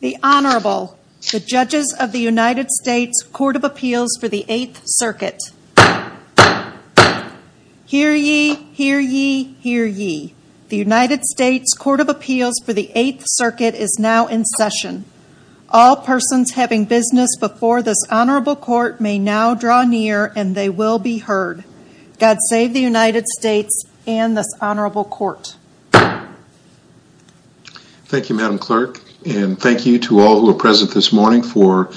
The Honorable, the Judges of the United States Court of Appeals for the 8th Circuit. Hear ye, hear ye, hear ye. The United States Court of Appeals for the 8th Circuit is now in session. All persons having business before this Honorable Court may now draw near and they will be heard. God save the United States and this Honorable Court. Thank you Madam Clerk and thank you to all who are present this morning for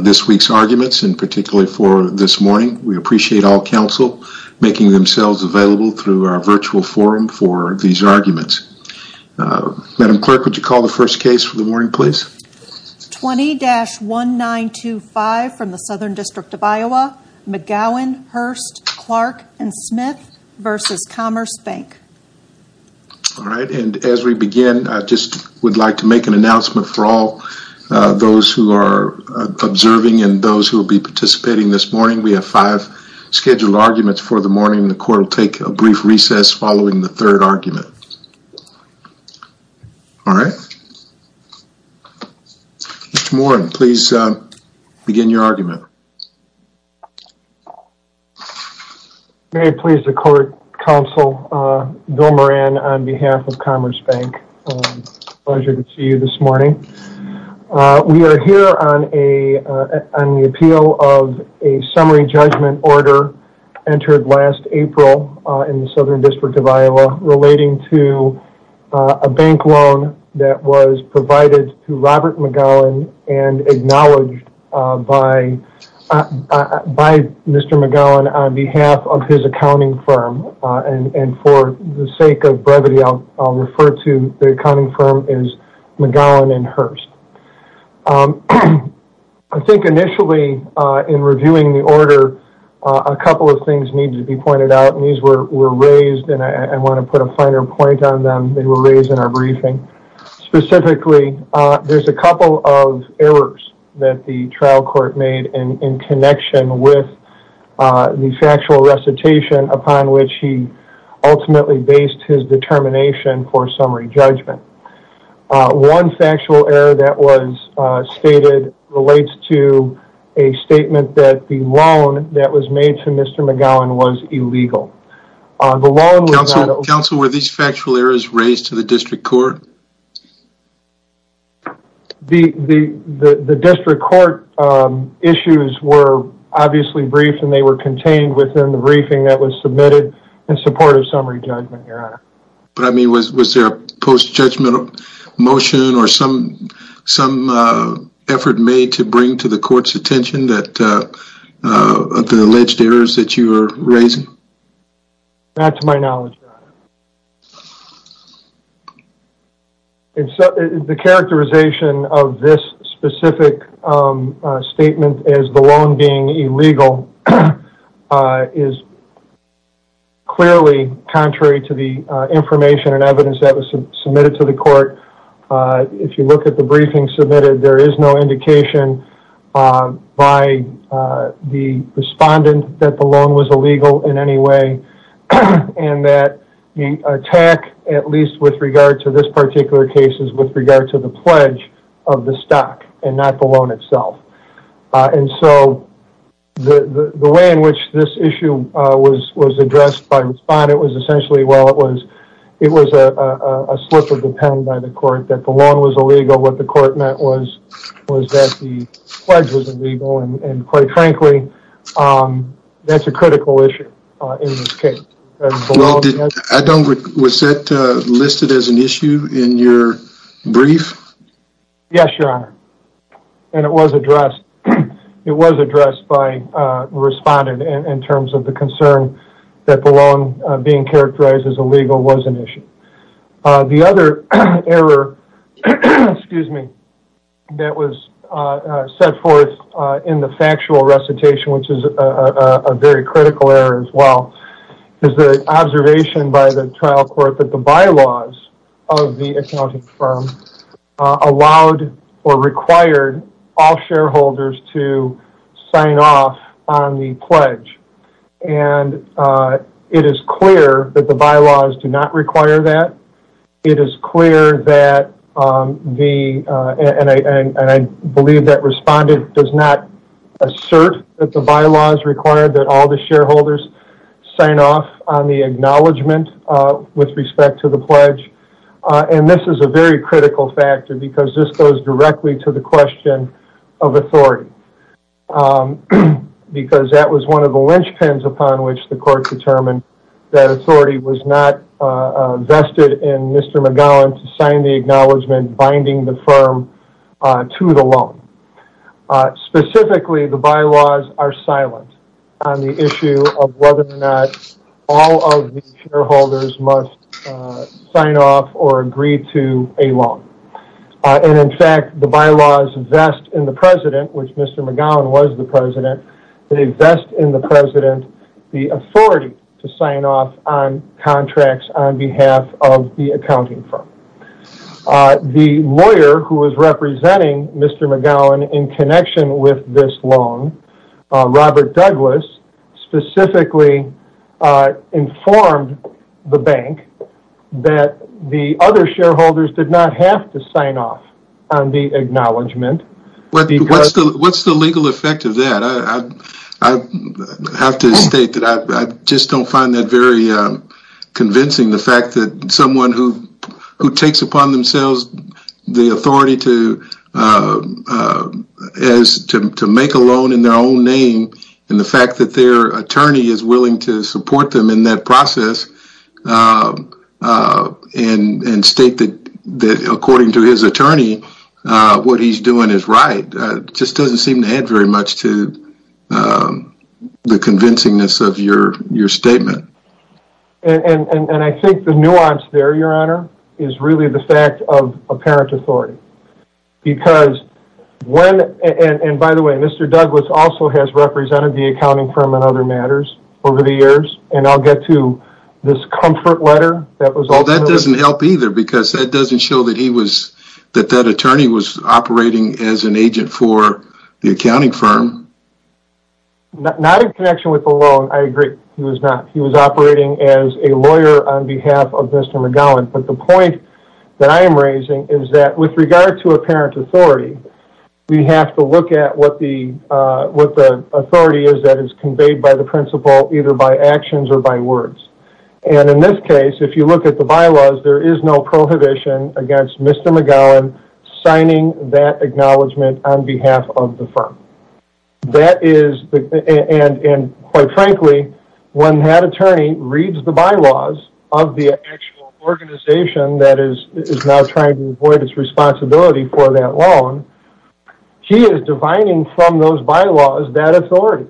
this week's arguments and particularly for this morning. We appreciate all counsel making themselves available through our virtual forum for these arguments. Madam Clerk, would you call the first case for the morning please? 20-1925 from the Southern District of Iowa, McGowen, Hurst, Clark & Smith v. Commerce Bank All right and as we begin I just would like to make an announcement for all those who are observing and those who will be participating this morning. We have five scheduled arguments for the morning. The Court will take a brief recess following the third argument. All right. Mr. Moran, please begin your argument. May it please the Court, Counsel Bill Moran on behalf of Commerce Bank. Pleasure to see you this morning. We are here on the appeal of a summary judgment order entered last April in the Southern District of Iowa relating to a bank loan that was provided to Robert McGowan and acknowledged by Mr. McGowan on behalf of his accounting firm. And for the sake of brevity I'll refer to the accounting firm as McGowan and Hurst. I think initially in reviewing the order a couple of things needed to be pointed out and these were raised and I want to put a finer point on them. They were raised in our briefing. Specifically there's a couple of errors that the trial court made in connection with the factual recitation upon which he ultimately based his determination for summary judgment. One factual error that was stated relates to a statement that the loan that was made to Mr. McGowan was illegal. Counsel, were these factual errors raised to the district court? The district court issues were obviously briefed and they were contained within the briefing that was submitted in support of summary judgment, Your Honor. Was there a post-judgmental motion or some effort made to bring to the court's attention the alleged errors that you were raising? Not to my knowledge, Your Honor. The characterization of this specific statement as the loan being illegal is clearly contrary to the information and evidence that was submitted to the court. If you look at the briefing submitted, there is no indication by the respondent that the loan was illegal in any way and that the attack, at least with regard to this particular case, is with regard to the pledge of the stock and not the loan itself. The way in which this issue was addressed by the respondent was essentially it was a slip of the pen by the court that the loan was illegal. What the court meant was that the pledge was illegal and, quite frankly, that's a critical issue in this case. Was that listed as an issue in your brief? Yes, Your Honor, and it was addressed by the respondent in terms of the concern that the loan being characterized as illegal was an issue. The other error that was set forth in the factual recitation, which is a very critical error as well, is the observation by the trial court that the bylaws of the accounting firm allowed or required all shareholders to sign off on the pledge. It is clear that the bylaws do not require that. It is clear that, and I believe that respondent does not assert that the bylaws require that all the shareholders sign off on the acknowledgement with respect to the pledge. This is a very critical factor because this goes directly to the question of authority. Because that was one of the linchpins upon which the court determined that authority was not vested in Mr. McGowan to sign the acknowledgement binding the firm to the loan. Specifically, the bylaws are silent on the issue of whether or not all of the shareholders must sign off or agree to a loan. In fact, the bylaws vest in the president, which Mr. McGowan was the president, they vest in the president the authority to sign off on contracts on behalf of the accounting firm. The lawyer who was representing Mr. McGowan in connection with this loan, Robert Douglas, specifically informed the bank that the other shareholders did not have to sign off on the acknowledgement. What's the legal effect of that? I have to state that I just don't find that very convincing, the fact that someone who takes upon themselves the authority to make a loan in their own name, and the fact that their attorney is willing to support them in that process and state that according to his attorney, what he's doing is right, just doesn't seem to add very much to the convincingness of your statement. I think the nuance there, your honor, is really the fact of apparent authority. By the way, Mr. Douglas also has represented the accounting firm in other matters over the years, and I'll get to this comfort letter. That doesn't help either because that doesn't show that that attorney was operating as an agent for the accounting firm. Not in connection with the loan, I agree. He was not. He was operating as a lawyer on behalf of Mr. McGowan. But the point that I am raising is that with regard to apparent authority, we have to look at what the authority is that is conveyed by the principal either by actions or by words. And in this case, if you look at the bylaws, there is no prohibition against Mr. McGowan signing that acknowledgement on behalf of the firm. And quite frankly, when that attorney reads the bylaws of the actual organization that is now trying to avoid its responsibility for that loan, he is divining from those bylaws that authority.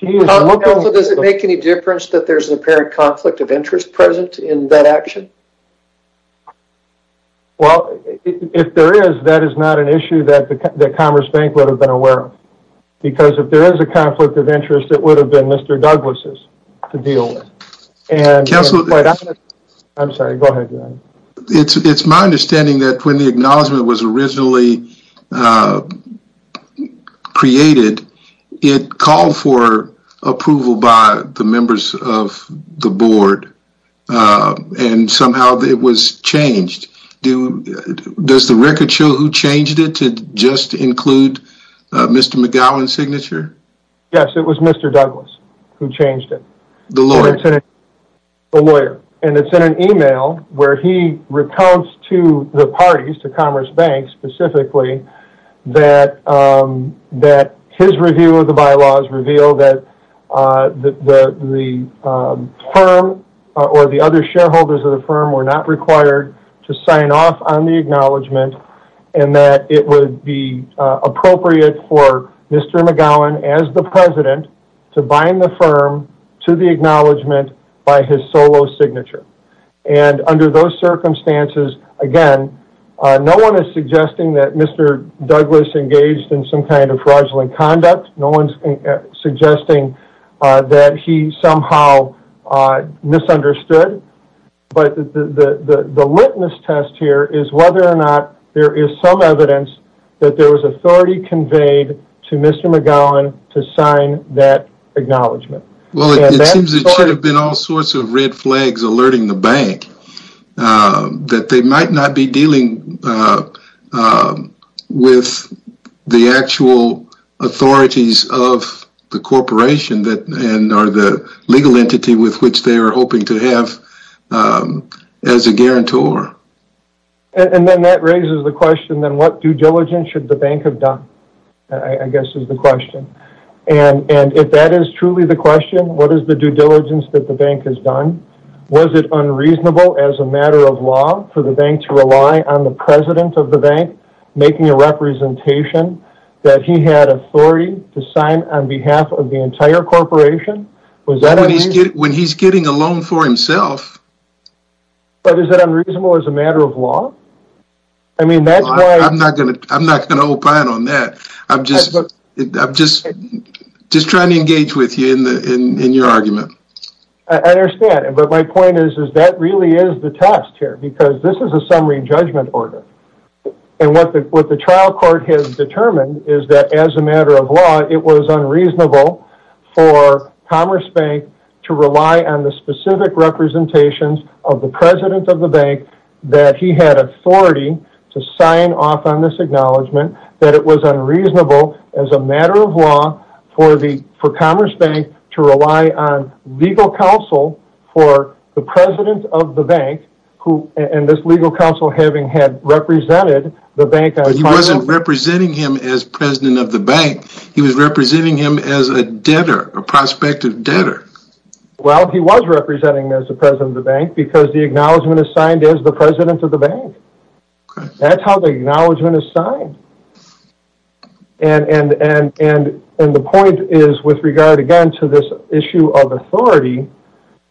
Does it make any difference that there's an apparent conflict of interest present in that action? Well, if there is, that is not an issue that the Commerce Bank would have been aware of. Because if there is a conflict of interest, it would have been Mr. Douglas's to deal with. It's my understanding that when the acknowledgement was originally created, it called for approval by the members of the board. And somehow it was changed. Does the record show who changed it to just include Mr. McGowan's signature? Yes, it was Mr. Douglas who changed it. The lawyer? The lawyer. And it's in an email where he recounts to the parties, to Commerce Bank specifically, that his review of the bylaws revealed that the firm or the other shareholders of the firm were not required to sign off on the acknowledgement and that it would be appropriate for Mr. McGowan as the president to bind the firm to the acknowledgement by his solo signature. And under those circumstances, again, no one is suggesting that Mr. Douglas engaged in some kind of fraudulent conduct. No one is suggesting that he somehow misunderstood. But the litmus test here is whether or not there is some evidence that there was authority conveyed to Mr. McGowan to sign that acknowledgement. Well, it seems that there have been all sorts of red flags alerting the bank that they might not be dealing with the actual authorities of the corporation or the legal entity with which they are hoping to have as a guarantor. And then that raises the question, then, what due diligence should the bank have done? I guess is the question. And if that is truly the question, what is the due diligence that the bank has done? Was it unreasonable as a matter of law for the bank to rely on the president of the bank making a representation that he had authority to sign on behalf of the entire corporation? When he's getting a loan for himself. But is it unreasonable as a matter of law? I'm not going to opine on that. I'm just trying to engage with you in your argument. I understand. But my point is that really is the test here because this is a summary judgment order. And what the trial court has determined is that as a matter of law, it was unreasonable for Commerce Bank to rely on the specific representations of the president of the bank that he had authority to sign off on this acknowledgement. That it was unreasonable as a matter of law for Commerce Bank to rely on legal counsel for the president of the bank and this legal counsel having had represented the bank. He wasn't representing him as president of the bank. He was representing him as a debtor, a prospective debtor. Well, he was representing as the president of the bank because the acknowledgement is signed as the president of the bank. That's how the acknowledgement is signed. And the point is with regard again to this issue of authority,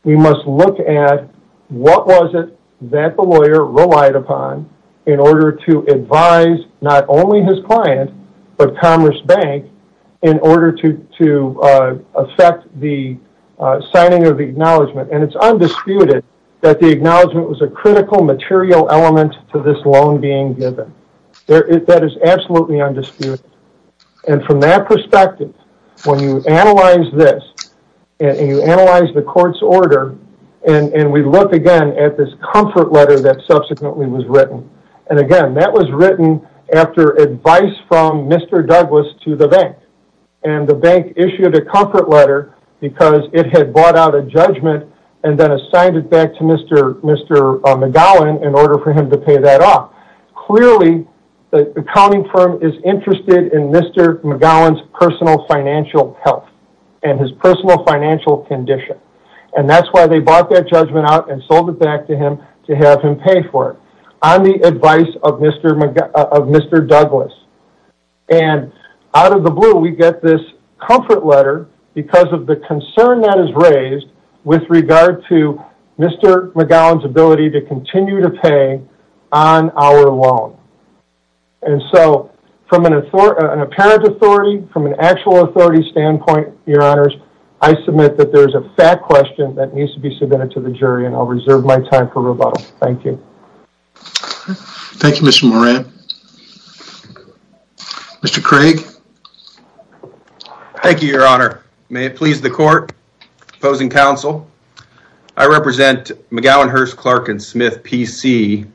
we must look at what was it that the lawyer relied upon in order to advise not only his client but Commerce Bank in order to affect the signing of the acknowledgement. And it's undisputed that the acknowledgement was a critical material element to this loan being given. That is absolutely undisputed. And from that perspective, when you analyze this and you analyze the court's order and we look again at this comfort letter that subsequently was written. And again, that was written after advice from Mr. Douglas to the bank. And the bank issued a comfort letter because it had bought out a judgment and then assigned it back to Mr. McGowan in order for him to pay that off. Clearly, the accounting firm is interested in Mr. McGowan's personal financial health and his personal financial condition. And that's why they bought that judgment out and sold it back to him to have him pay for it on the advice of Mr. Douglas. And out of the blue, we get this comfort letter because of the concern that is raised with regard to Mr. McGowan's ability to continue to pay on our loan. And so from an apparent authority, from an actual authority standpoint, your honors, I submit that there's a fact question that needs to be submitted to the jury and I'll reserve my time for rebuttal. Thank you. Thank you, Mr. Moran. Mr. Craig. Thank you, your honor. May it please the court. Opposing counsel. I represent McGowan Hearst Clark & Smith PC,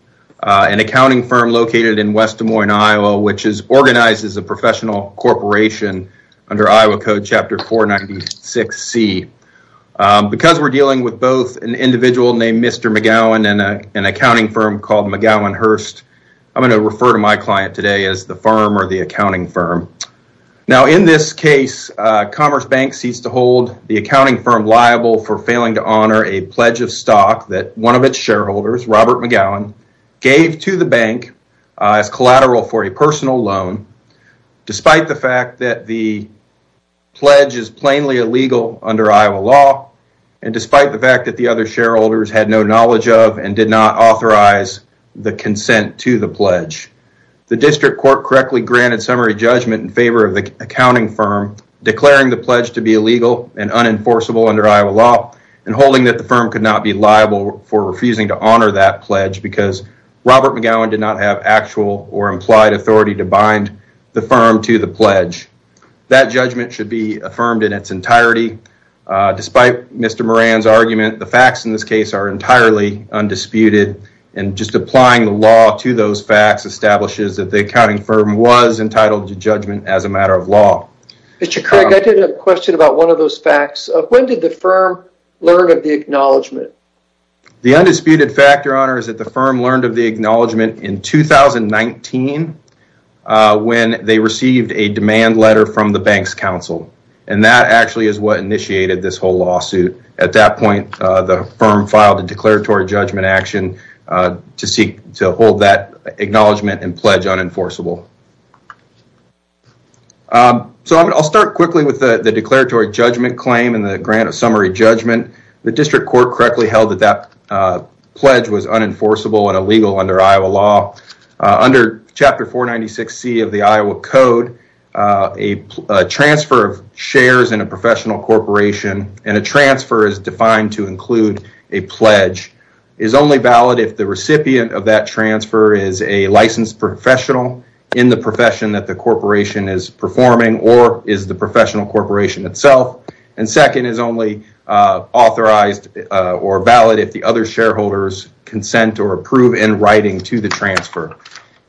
an accounting firm located in West Des Moines, Iowa, which is organized as a professional corporation under Iowa Code Chapter 496C. Because we're dealing with both an individual named Mr. McGowan and an accounting firm called McGowan Hearst, I'm going to refer to my client today as the firm or the accounting firm. Now, in this case, Commerce Bank ceased to hold the accounting firm liable for failing to honor a pledge of stock that one of its shareholders, Robert McGowan, gave to the bank as collateral for a personal loan despite the fact that the pledge is plainly illegal under Iowa law and despite the fact that the other shareholders had no knowledge of and did not authorize the consent to the pledge. The district court correctly granted summary judgment in favor of the accounting firm declaring the pledge to be illegal and unenforceable under Iowa law and holding that the firm could not be liable for refusing to honor that pledge because Robert McGowan did not have actual or implied authority to bind the firm to the pledge. That judgment should be affirmed in its entirety. Despite Mr. Moran's argument, the facts in this case are entirely undisputed and just applying the law to those facts establishes that the accounting firm was entitled to judgment as a matter of law. Mr. Craig, I did have a question about one of those facts. When did the firm learn of the acknowledgement? The undisputed fact, your honor, is that the firm learned of the acknowledgement in 2019 when they received a demand letter from the bank's counsel and that actually is what initiated this whole lawsuit. At that point, the firm filed a declaratory judgment action to hold that acknowledgement and pledge unenforceable. I'll start quickly with the declaratory judgment claim and the grant of summary judgment. The district court correctly held that that pledge was unenforceable and illegal under Iowa law. Under Chapter 496C of the Iowa Code, a transfer of shares in a professional corporation and a transfer is defined to include a pledge is only valid if the recipient of that transfer is a licensed professional in the profession that the corporation is performing or is the professional corporation itself. Second, it is only authorized or valid if the other shareholders consent or approve in writing to the transfer.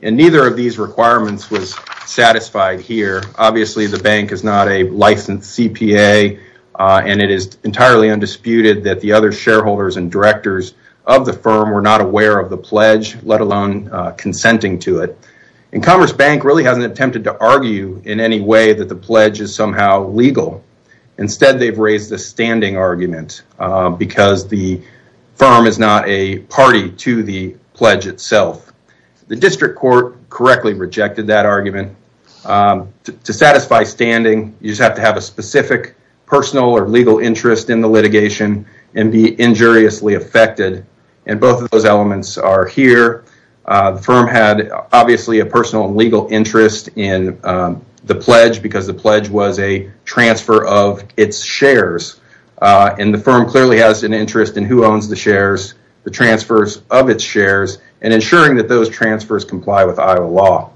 Neither of these requirements was satisfied here. Obviously, the bank is not a licensed CPA and it is entirely undisputed that the other shareholders and directors of the firm were not aware of the pledge, let alone consenting to it. Commerce Bank really hasn't attempted to argue in any way that the pledge is somehow legal. Instead, they've raised a standing argument because the firm is not a party to the pledge itself. The district court correctly rejected that argument. To satisfy standing, you just have to have a specific personal or legal interest in the litigation and be injuriously affected and both of those elements are here. The firm had obviously a personal and legal interest in the pledge because the pledge was a transfer of its shares. The firm clearly has an interest in who owns the shares, the transfers of its shares, and ensuring that those transfers comply with Iowa law.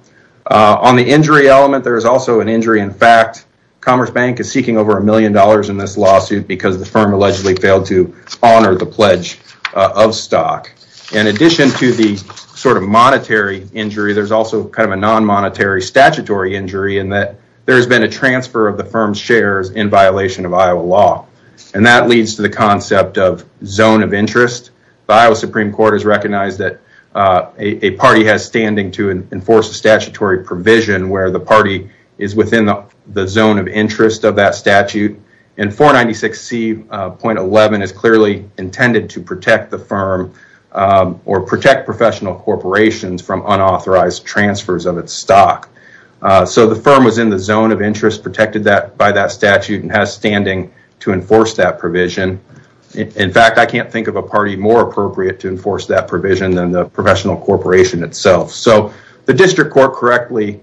On the injury element, there is also an injury in fact. Commerce Bank is seeking over a million dollars in this lawsuit because the firm allegedly failed to honor the pledge of stock. In addition to the monetary injury, there is also a non-monetary statutory injury in that there has been a transfer of the firm's shares in violation of Iowa law. That leads to the concept of zone of interest. The Iowa Supreme Court has recognized that a party has standing to enforce a statutory provision where the party is within the zone of interest of that statute. 496C.11 is clearly intended to protect the firm or protect professional corporations from unauthorized transfers of its stock. The firm was in the zone of interest protected by that statute and has standing to enforce that provision. In fact, I can't think of a party more appropriate to enforce that provision than the professional corporation itself. The district court correctly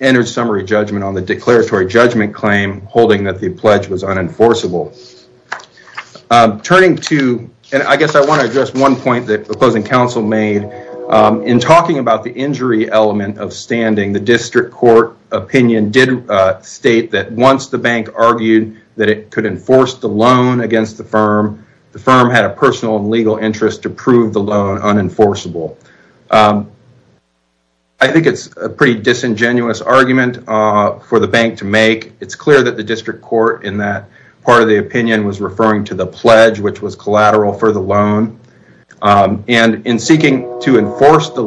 entered summary judgment on the declaratory judgment claim holding that the pledge was unenforceable. I guess I want to address one point that opposing counsel made. In talking about the injury element of standing, the district court opinion did state that once the bank argued that it could enforce the loan against the firm, the firm had a personal and legal interest to prove the loan unenforceable. I think it's a pretty disingenuous argument for the bank to make. It's clear that the district court in that part of the opinion was referring to the pledge which was collateral for the loan. In seeking to enforce the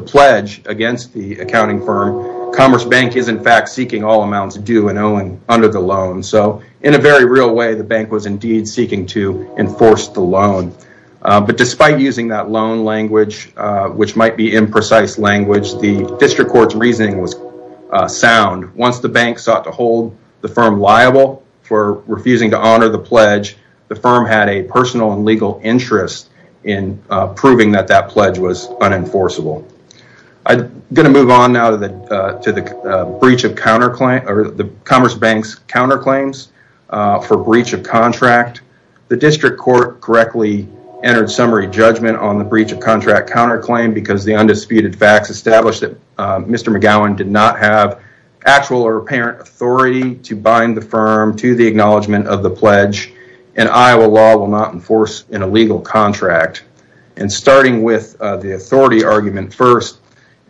pledge against the accounting firm, Commerce Bank is in fact seeking all amounts due and owing under the loan. In a very real way, the bank was indeed seeking to enforce the loan. Despite using that loan language, which might be imprecise language, the district court's reasoning was sound. Once the bank sought to hold the firm liable for refusing to honor the pledge, the firm had a personal and legal interest in proving that that pledge was unenforceable. I'm going to move on now to the Commerce Bank's counterclaims for breach of contract. The district court correctly entered summary judgment on the breach of contract counterclaim because the undisputed facts established that Mr. McGowan did not have actual or apparent authority to bind the firm to the acknowledgement of the pledge and Iowa law will not enforce an illegal contract. Starting with the authority argument first,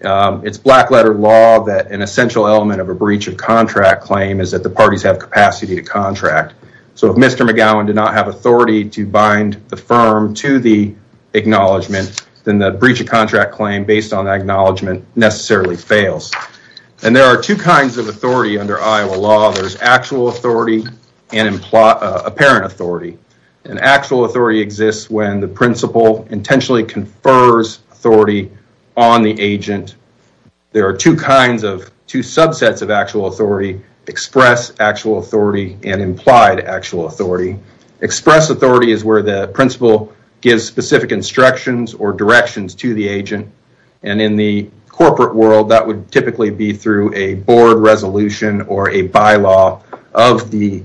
it's black letter law that an essential element of a breach of contract claim is that the parties have capacity to contract. If Mr. McGowan did not have authority to bind the firm to the acknowledgement, then the breach of contract claim based on that acknowledgement necessarily fails. There are two kinds of authority under Iowa law. There's actual authority and apparent authority. Actual authority exists when the principal intentionally confers authority on the agent. There are two subsets of actual authority, express actual authority and implied actual authority. Express authority is where the principal gives specific instructions or directions to the agent. In the corporate world, that would typically be through a board resolution or a bylaw of the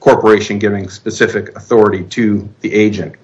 corporation giving specific authority to the agent.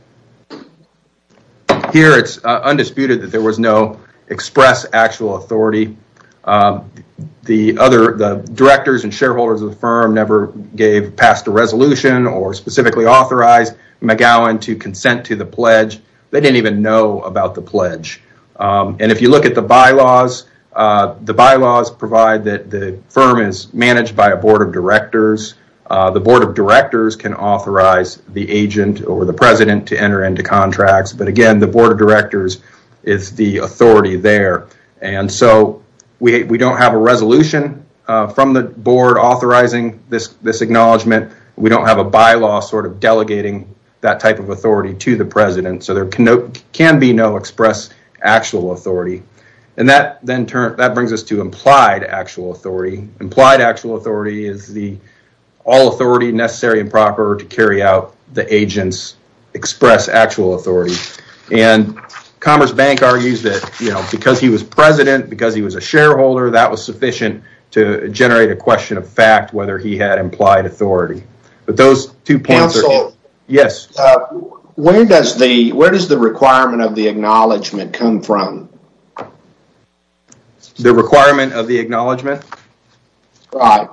Here it's undisputed that there was no express actual authority. The directors and shareholders of the firm never gave past a resolution or specifically authorized McGowan to consent to the pledge. They didn't even know about the pledge. If you look at the bylaws, the bylaws provide that the firm is managed by a board of directors. The board of directors can authorize the agent or the president to enter into contracts. Again, the board of directors is the authority there. We don't have a resolution from the board authorizing this acknowledgement. We don't have a bylaw delegating that type of authority to the president, so there can be no express actual authority. That brings us to implied actual authority. Implied actual authority is the all authority necessary and proper to carry out the agent's express actual authority. Commerce Bank argues that because he was president, because he was a shareholder, that was sufficient to generate a question of fact whether he had implied authority. Counsel, where does the requirement of the acknowledgement come from? The requirement of the acknowledgement? Right.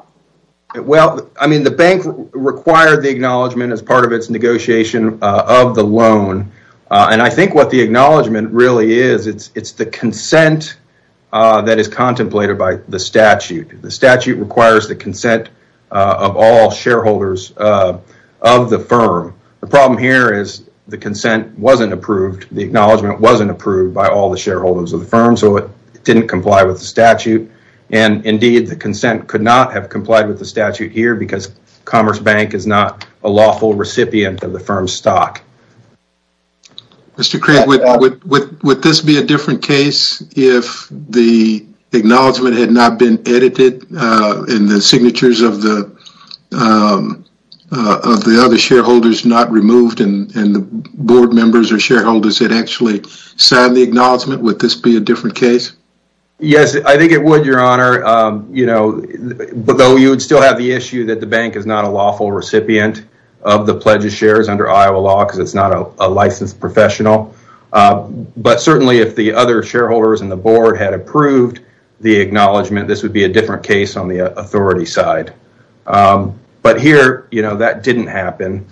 The bank required the acknowledgement as part of its negotiation of the loan. I think what the acknowledgement really is, it's the consent that is contemplated by the statute. The statute requires the consent of all shareholders of the firm. The problem here is the consent wasn't approved. The acknowledgement wasn't approved by all the shareholders of the firm, so it didn't comply with the statute. Indeed, the consent could not have complied with the statute here because Commerce Bank is not a lawful recipient of the firm's stock. Mr. Craig, would this be a different case if the acknowledgement had not been edited and the signatures of the other shareholders not removed and the board members or shareholders had actually signed the acknowledgement? Would this be a different case? Yes, I think it would, Your Honor, but though you would still have the issue that the bank is not a lawful recipient of the pledged shares under Iowa law because it's not a licensed professional, but certainly if the other shareholders and the board had approved the acknowledgement, this would be a different case on the authority side. But here, that didn't happen,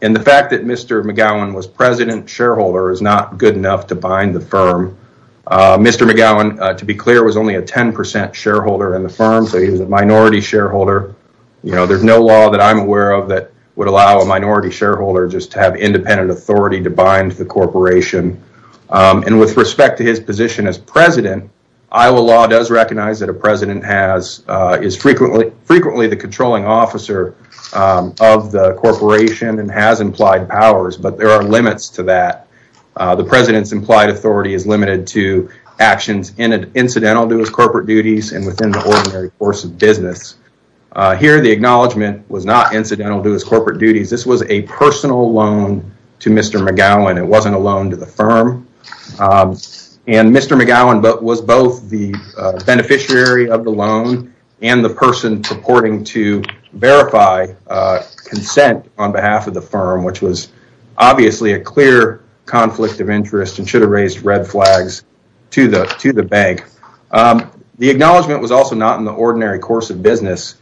and the fact that Mr. McGowan was president shareholder is not good enough to bind the firm. Mr. McGowan, to be clear, was only a 10% shareholder in the firm, so he was a minority shareholder. There's no law that I'm aware of that would allow a minority shareholder just to have independent authority to bind the corporation. And with respect to his position as president, Iowa law does recognize that a president is frequently the controlling officer of the corporation and has implied powers, but there are limits to that. The president's implied authority is limited to actions incidental to his corporate duties and within the ordinary course of business. Here, the acknowledgement was not incidental to his corporate duties. This was a personal loan to Mr. McGowan. It wasn't a loan to the firm, and Mr. McGowan was both the beneficiary of the loan and the person purporting to verify consent on behalf of the firm, which was obviously a clear conflict of interest and should have raised red flags to the bank. The acknowledgement was also not in the ordinary course of business.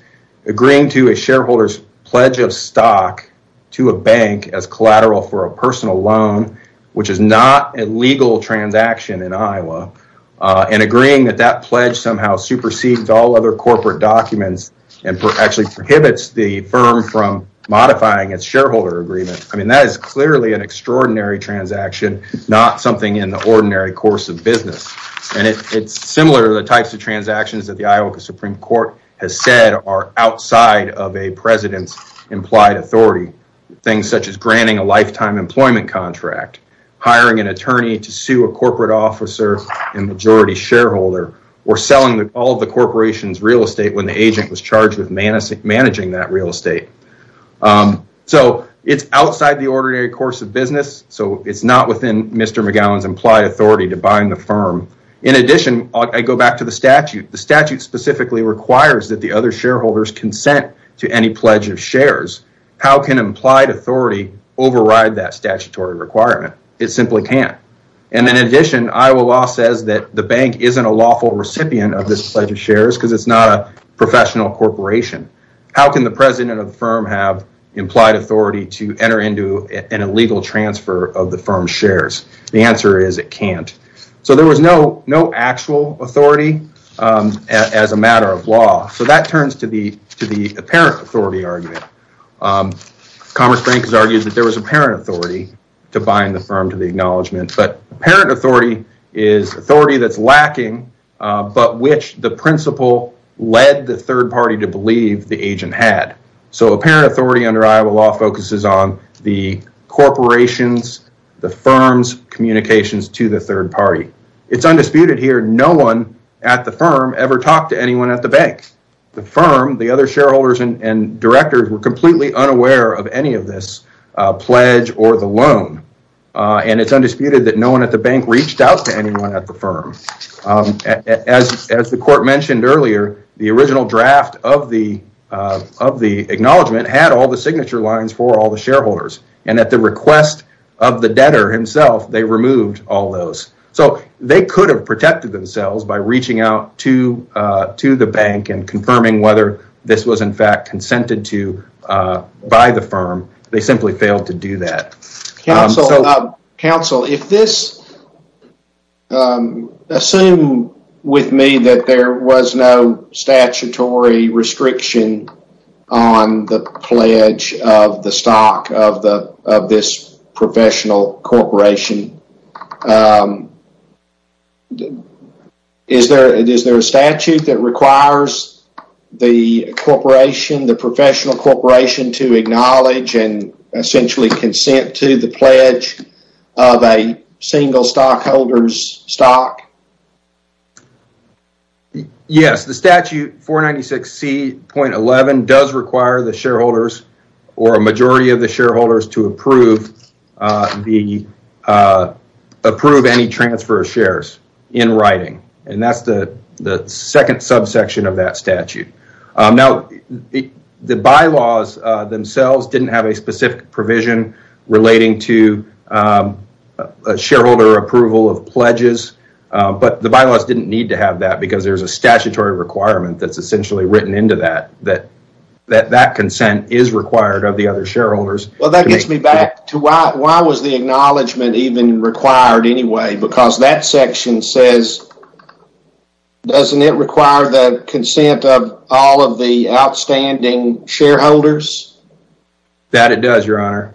Agreeing to a shareholder's pledge of stock to a bank as collateral for a personal loan, which is not a legal transaction in Iowa, and agreeing that that pledge somehow supersedes all other corporate documents and actually prohibits the firm from modifying its shareholder agreement, I mean, that is clearly an extraordinary transaction, not something in the ordinary course of business. And it's similar to the types of transactions that the Iowa Supreme Court has said are outside of a president's implied authority. Things such as granting a lifetime employment contract, hiring an attorney to sue a corporate officer and majority shareholder, or selling all of the corporation's real estate when the agent was charged with managing that real estate. So, it's outside the ordinary course of business, so it's not within Mr. McGowan's implied authority to bind the firm. In addition, I go back to the statute. The statute specifically requires that the other shareholders consent to any pledge of shares. How can implied authority override that statutory requirement? It simply can't. And in addition, Iowa law says that the bank isn't a lawful recipient of this pledge of shares because it's not a professional corporation. How can the president of the firm have implied authority to enter into an illegal transfer of the firm's shares? The answer is it can't. So, there was no actual authority as a matter of law. So, that turns to the apparent authority argument. Commerce Bank has argued that there was apparent authority to bind the firm to the acknowledgement, but apparent authority is authority that's lacking but which the principal led the third party to believe the agent had. So, apparent authority under Iowa law focuses on the corporation's, the firm's communications to the third party. It's undisputed here. No one at the firm ever talked to anyone at the bank. The firm, the other shareholders and directors were completely unaware of any of this pledge or the loan. And it's undisputed that no one at the bank reached out to anyone at the firm. As the court mentioned earlier, the original draft of the acknowledgement had all the signature lines for all the shareholders. And at the request of the debtor himself, they removed all those. So, they could have protected themselves by reaching out to the bank and confirming whether this was in fact consented to by the firm. They simply failed to do that. Counsel, if this, assume with me that there was no statutory restriction on the pledge of the stock of this professional corporation. Is there a statute that requires the corporation, the professional corporation to acknowledge and essentially consent to the pledge of a single stockholder's stock? Yes, the statute 496C.11 does require the shareholders or a majority of the shareholders to approve any transfer of shares in writing. And that's the second subsection of that statute. Now, the bylaws themselves didn't have a specific provision relating to a shareholder approval of pledges. But the bylaws didn't need to have that because there's a statutory requirement that's essentially written into that, that that consent is required of the other shareholders. Well, that gets me back to why was the acknowledgement even required anyway? Because that section says, doesn't it require the consent of all of the outstanding shareholders? That it does, your honor.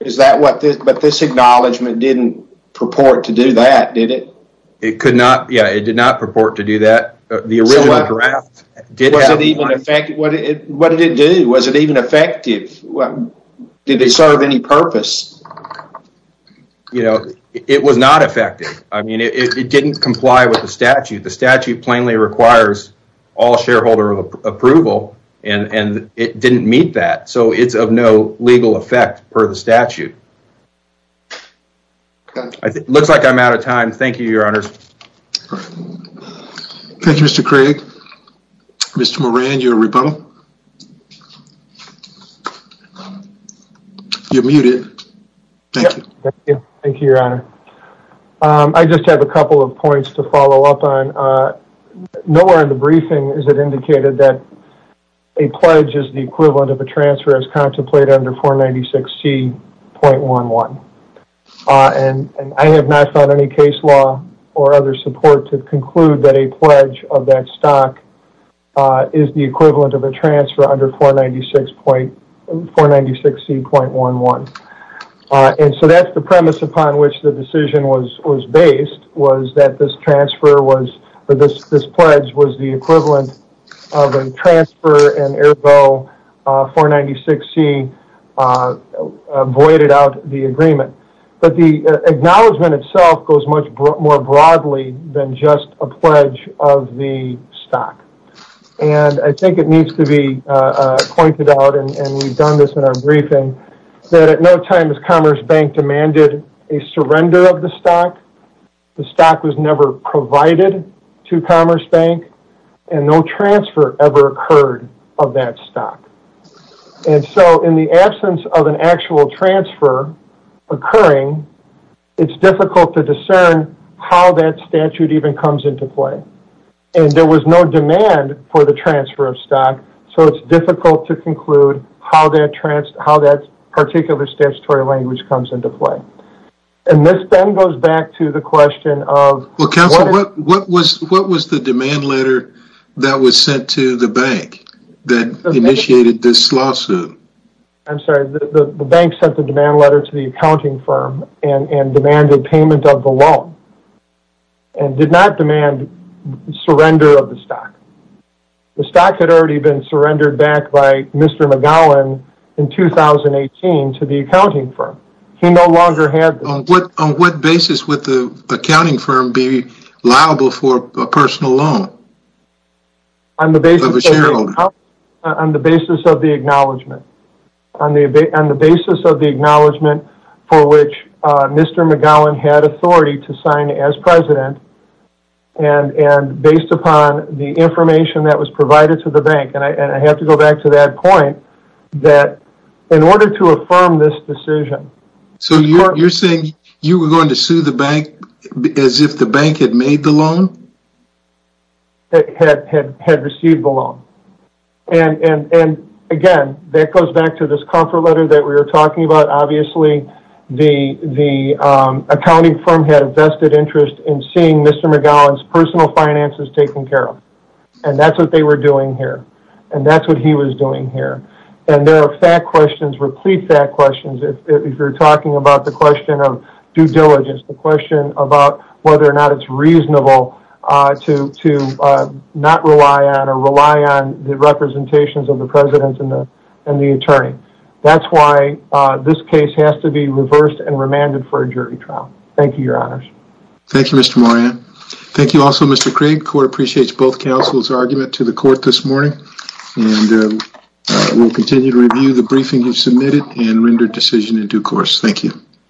Is that what this, but this acknowledgement didn't purport to do that, did it? It could not, yeah, it did not purport to do that. What did it do? Was it even effective? Did they serve any purpose? You know, it was not effective. I mean, it didn't comply with the statute. The statute plainly requires all shareholder approval and it didn't meet that. So it's of no legal effect per the statute. It looks like I'm out of time. Thank you, your honors. Thank you, Mr. Craig. Mr. Moran, your rebuttal. You're muted. Thank you. Thank you, your honor. I just have a couple of points to follow up on. Nowhere in the briefing is it indicated that a pledge is the equivalent of a transfer as contemplated under 496C.11. And I have not found any case law or other support to conclude that a pledge of that stock is the equivalent of a transfer under 496C.11. And so that's the premise upon which the decision was based, was that this transfer was, or this pledge was the equivalent of a transfer and ergo 496C voided out the agreement. But the acknowledgement itself goes much more broadly than just a pledge of the stock. And I think it needs to be pointed out, and we've done this in our briefing, that at no time has Commerce Bank demanded a surrender of the stock. The stock was never provided to Commerce Bank, and no transfer ever occurred of that stock. And so in the absence of an actual transfer occurring, it's difficult to discern how that statute even comes into play. And there was no demand for the transfer of stock, so it's difficult to conclude how that particular statutory language comes into play. And this then goes back to the question of... Well, counsel, what was the demand letter that was sent to the bank that initiated this lawsuit? I'm sorry, the bank sent the demand letter to the accounting firm and demanded payment of the loan, and did not demand surrender of the stock. The stock had already been surrendered back by Mr. McGowan in 2018 to the accounting firm. He no longer had this. On what basis would the accounting firm be liable for a personal loan of a shareholder? On the basis of the acknowledgement. On the basis of the acknowledgement for which Mr. McGowan had authority to sign as president, and based upon the information that was provided to the bank. And I have to go back to that point, that in order to affirm this decision... So you're saying you were going to sue the bank as if the bank had made the loan? Had received the loan. And again, that goes back to this comfort letter that we were talking about. Obviously, the accounting firm had a vested interest in seeing Mr. McGowan's personal finances taken care of. And that's what they were doing here. And that's what he was doing here. And there are fact questions, replete fact questions, if you're talking about the question of due diligence, the question about whether or not it's reasonable to not rely on or rely on the representations of the president and the attorney. That's why this case has to be reversed and remanded for a jury trial. Thank you, Your Honors. Thank you, Mr. Moran. Thank you also, Mr. Craig. Court appreciates both counsel's argument to the court this morning. And we'll continue to review the briefing you submitted and render decision in due course. Thank you.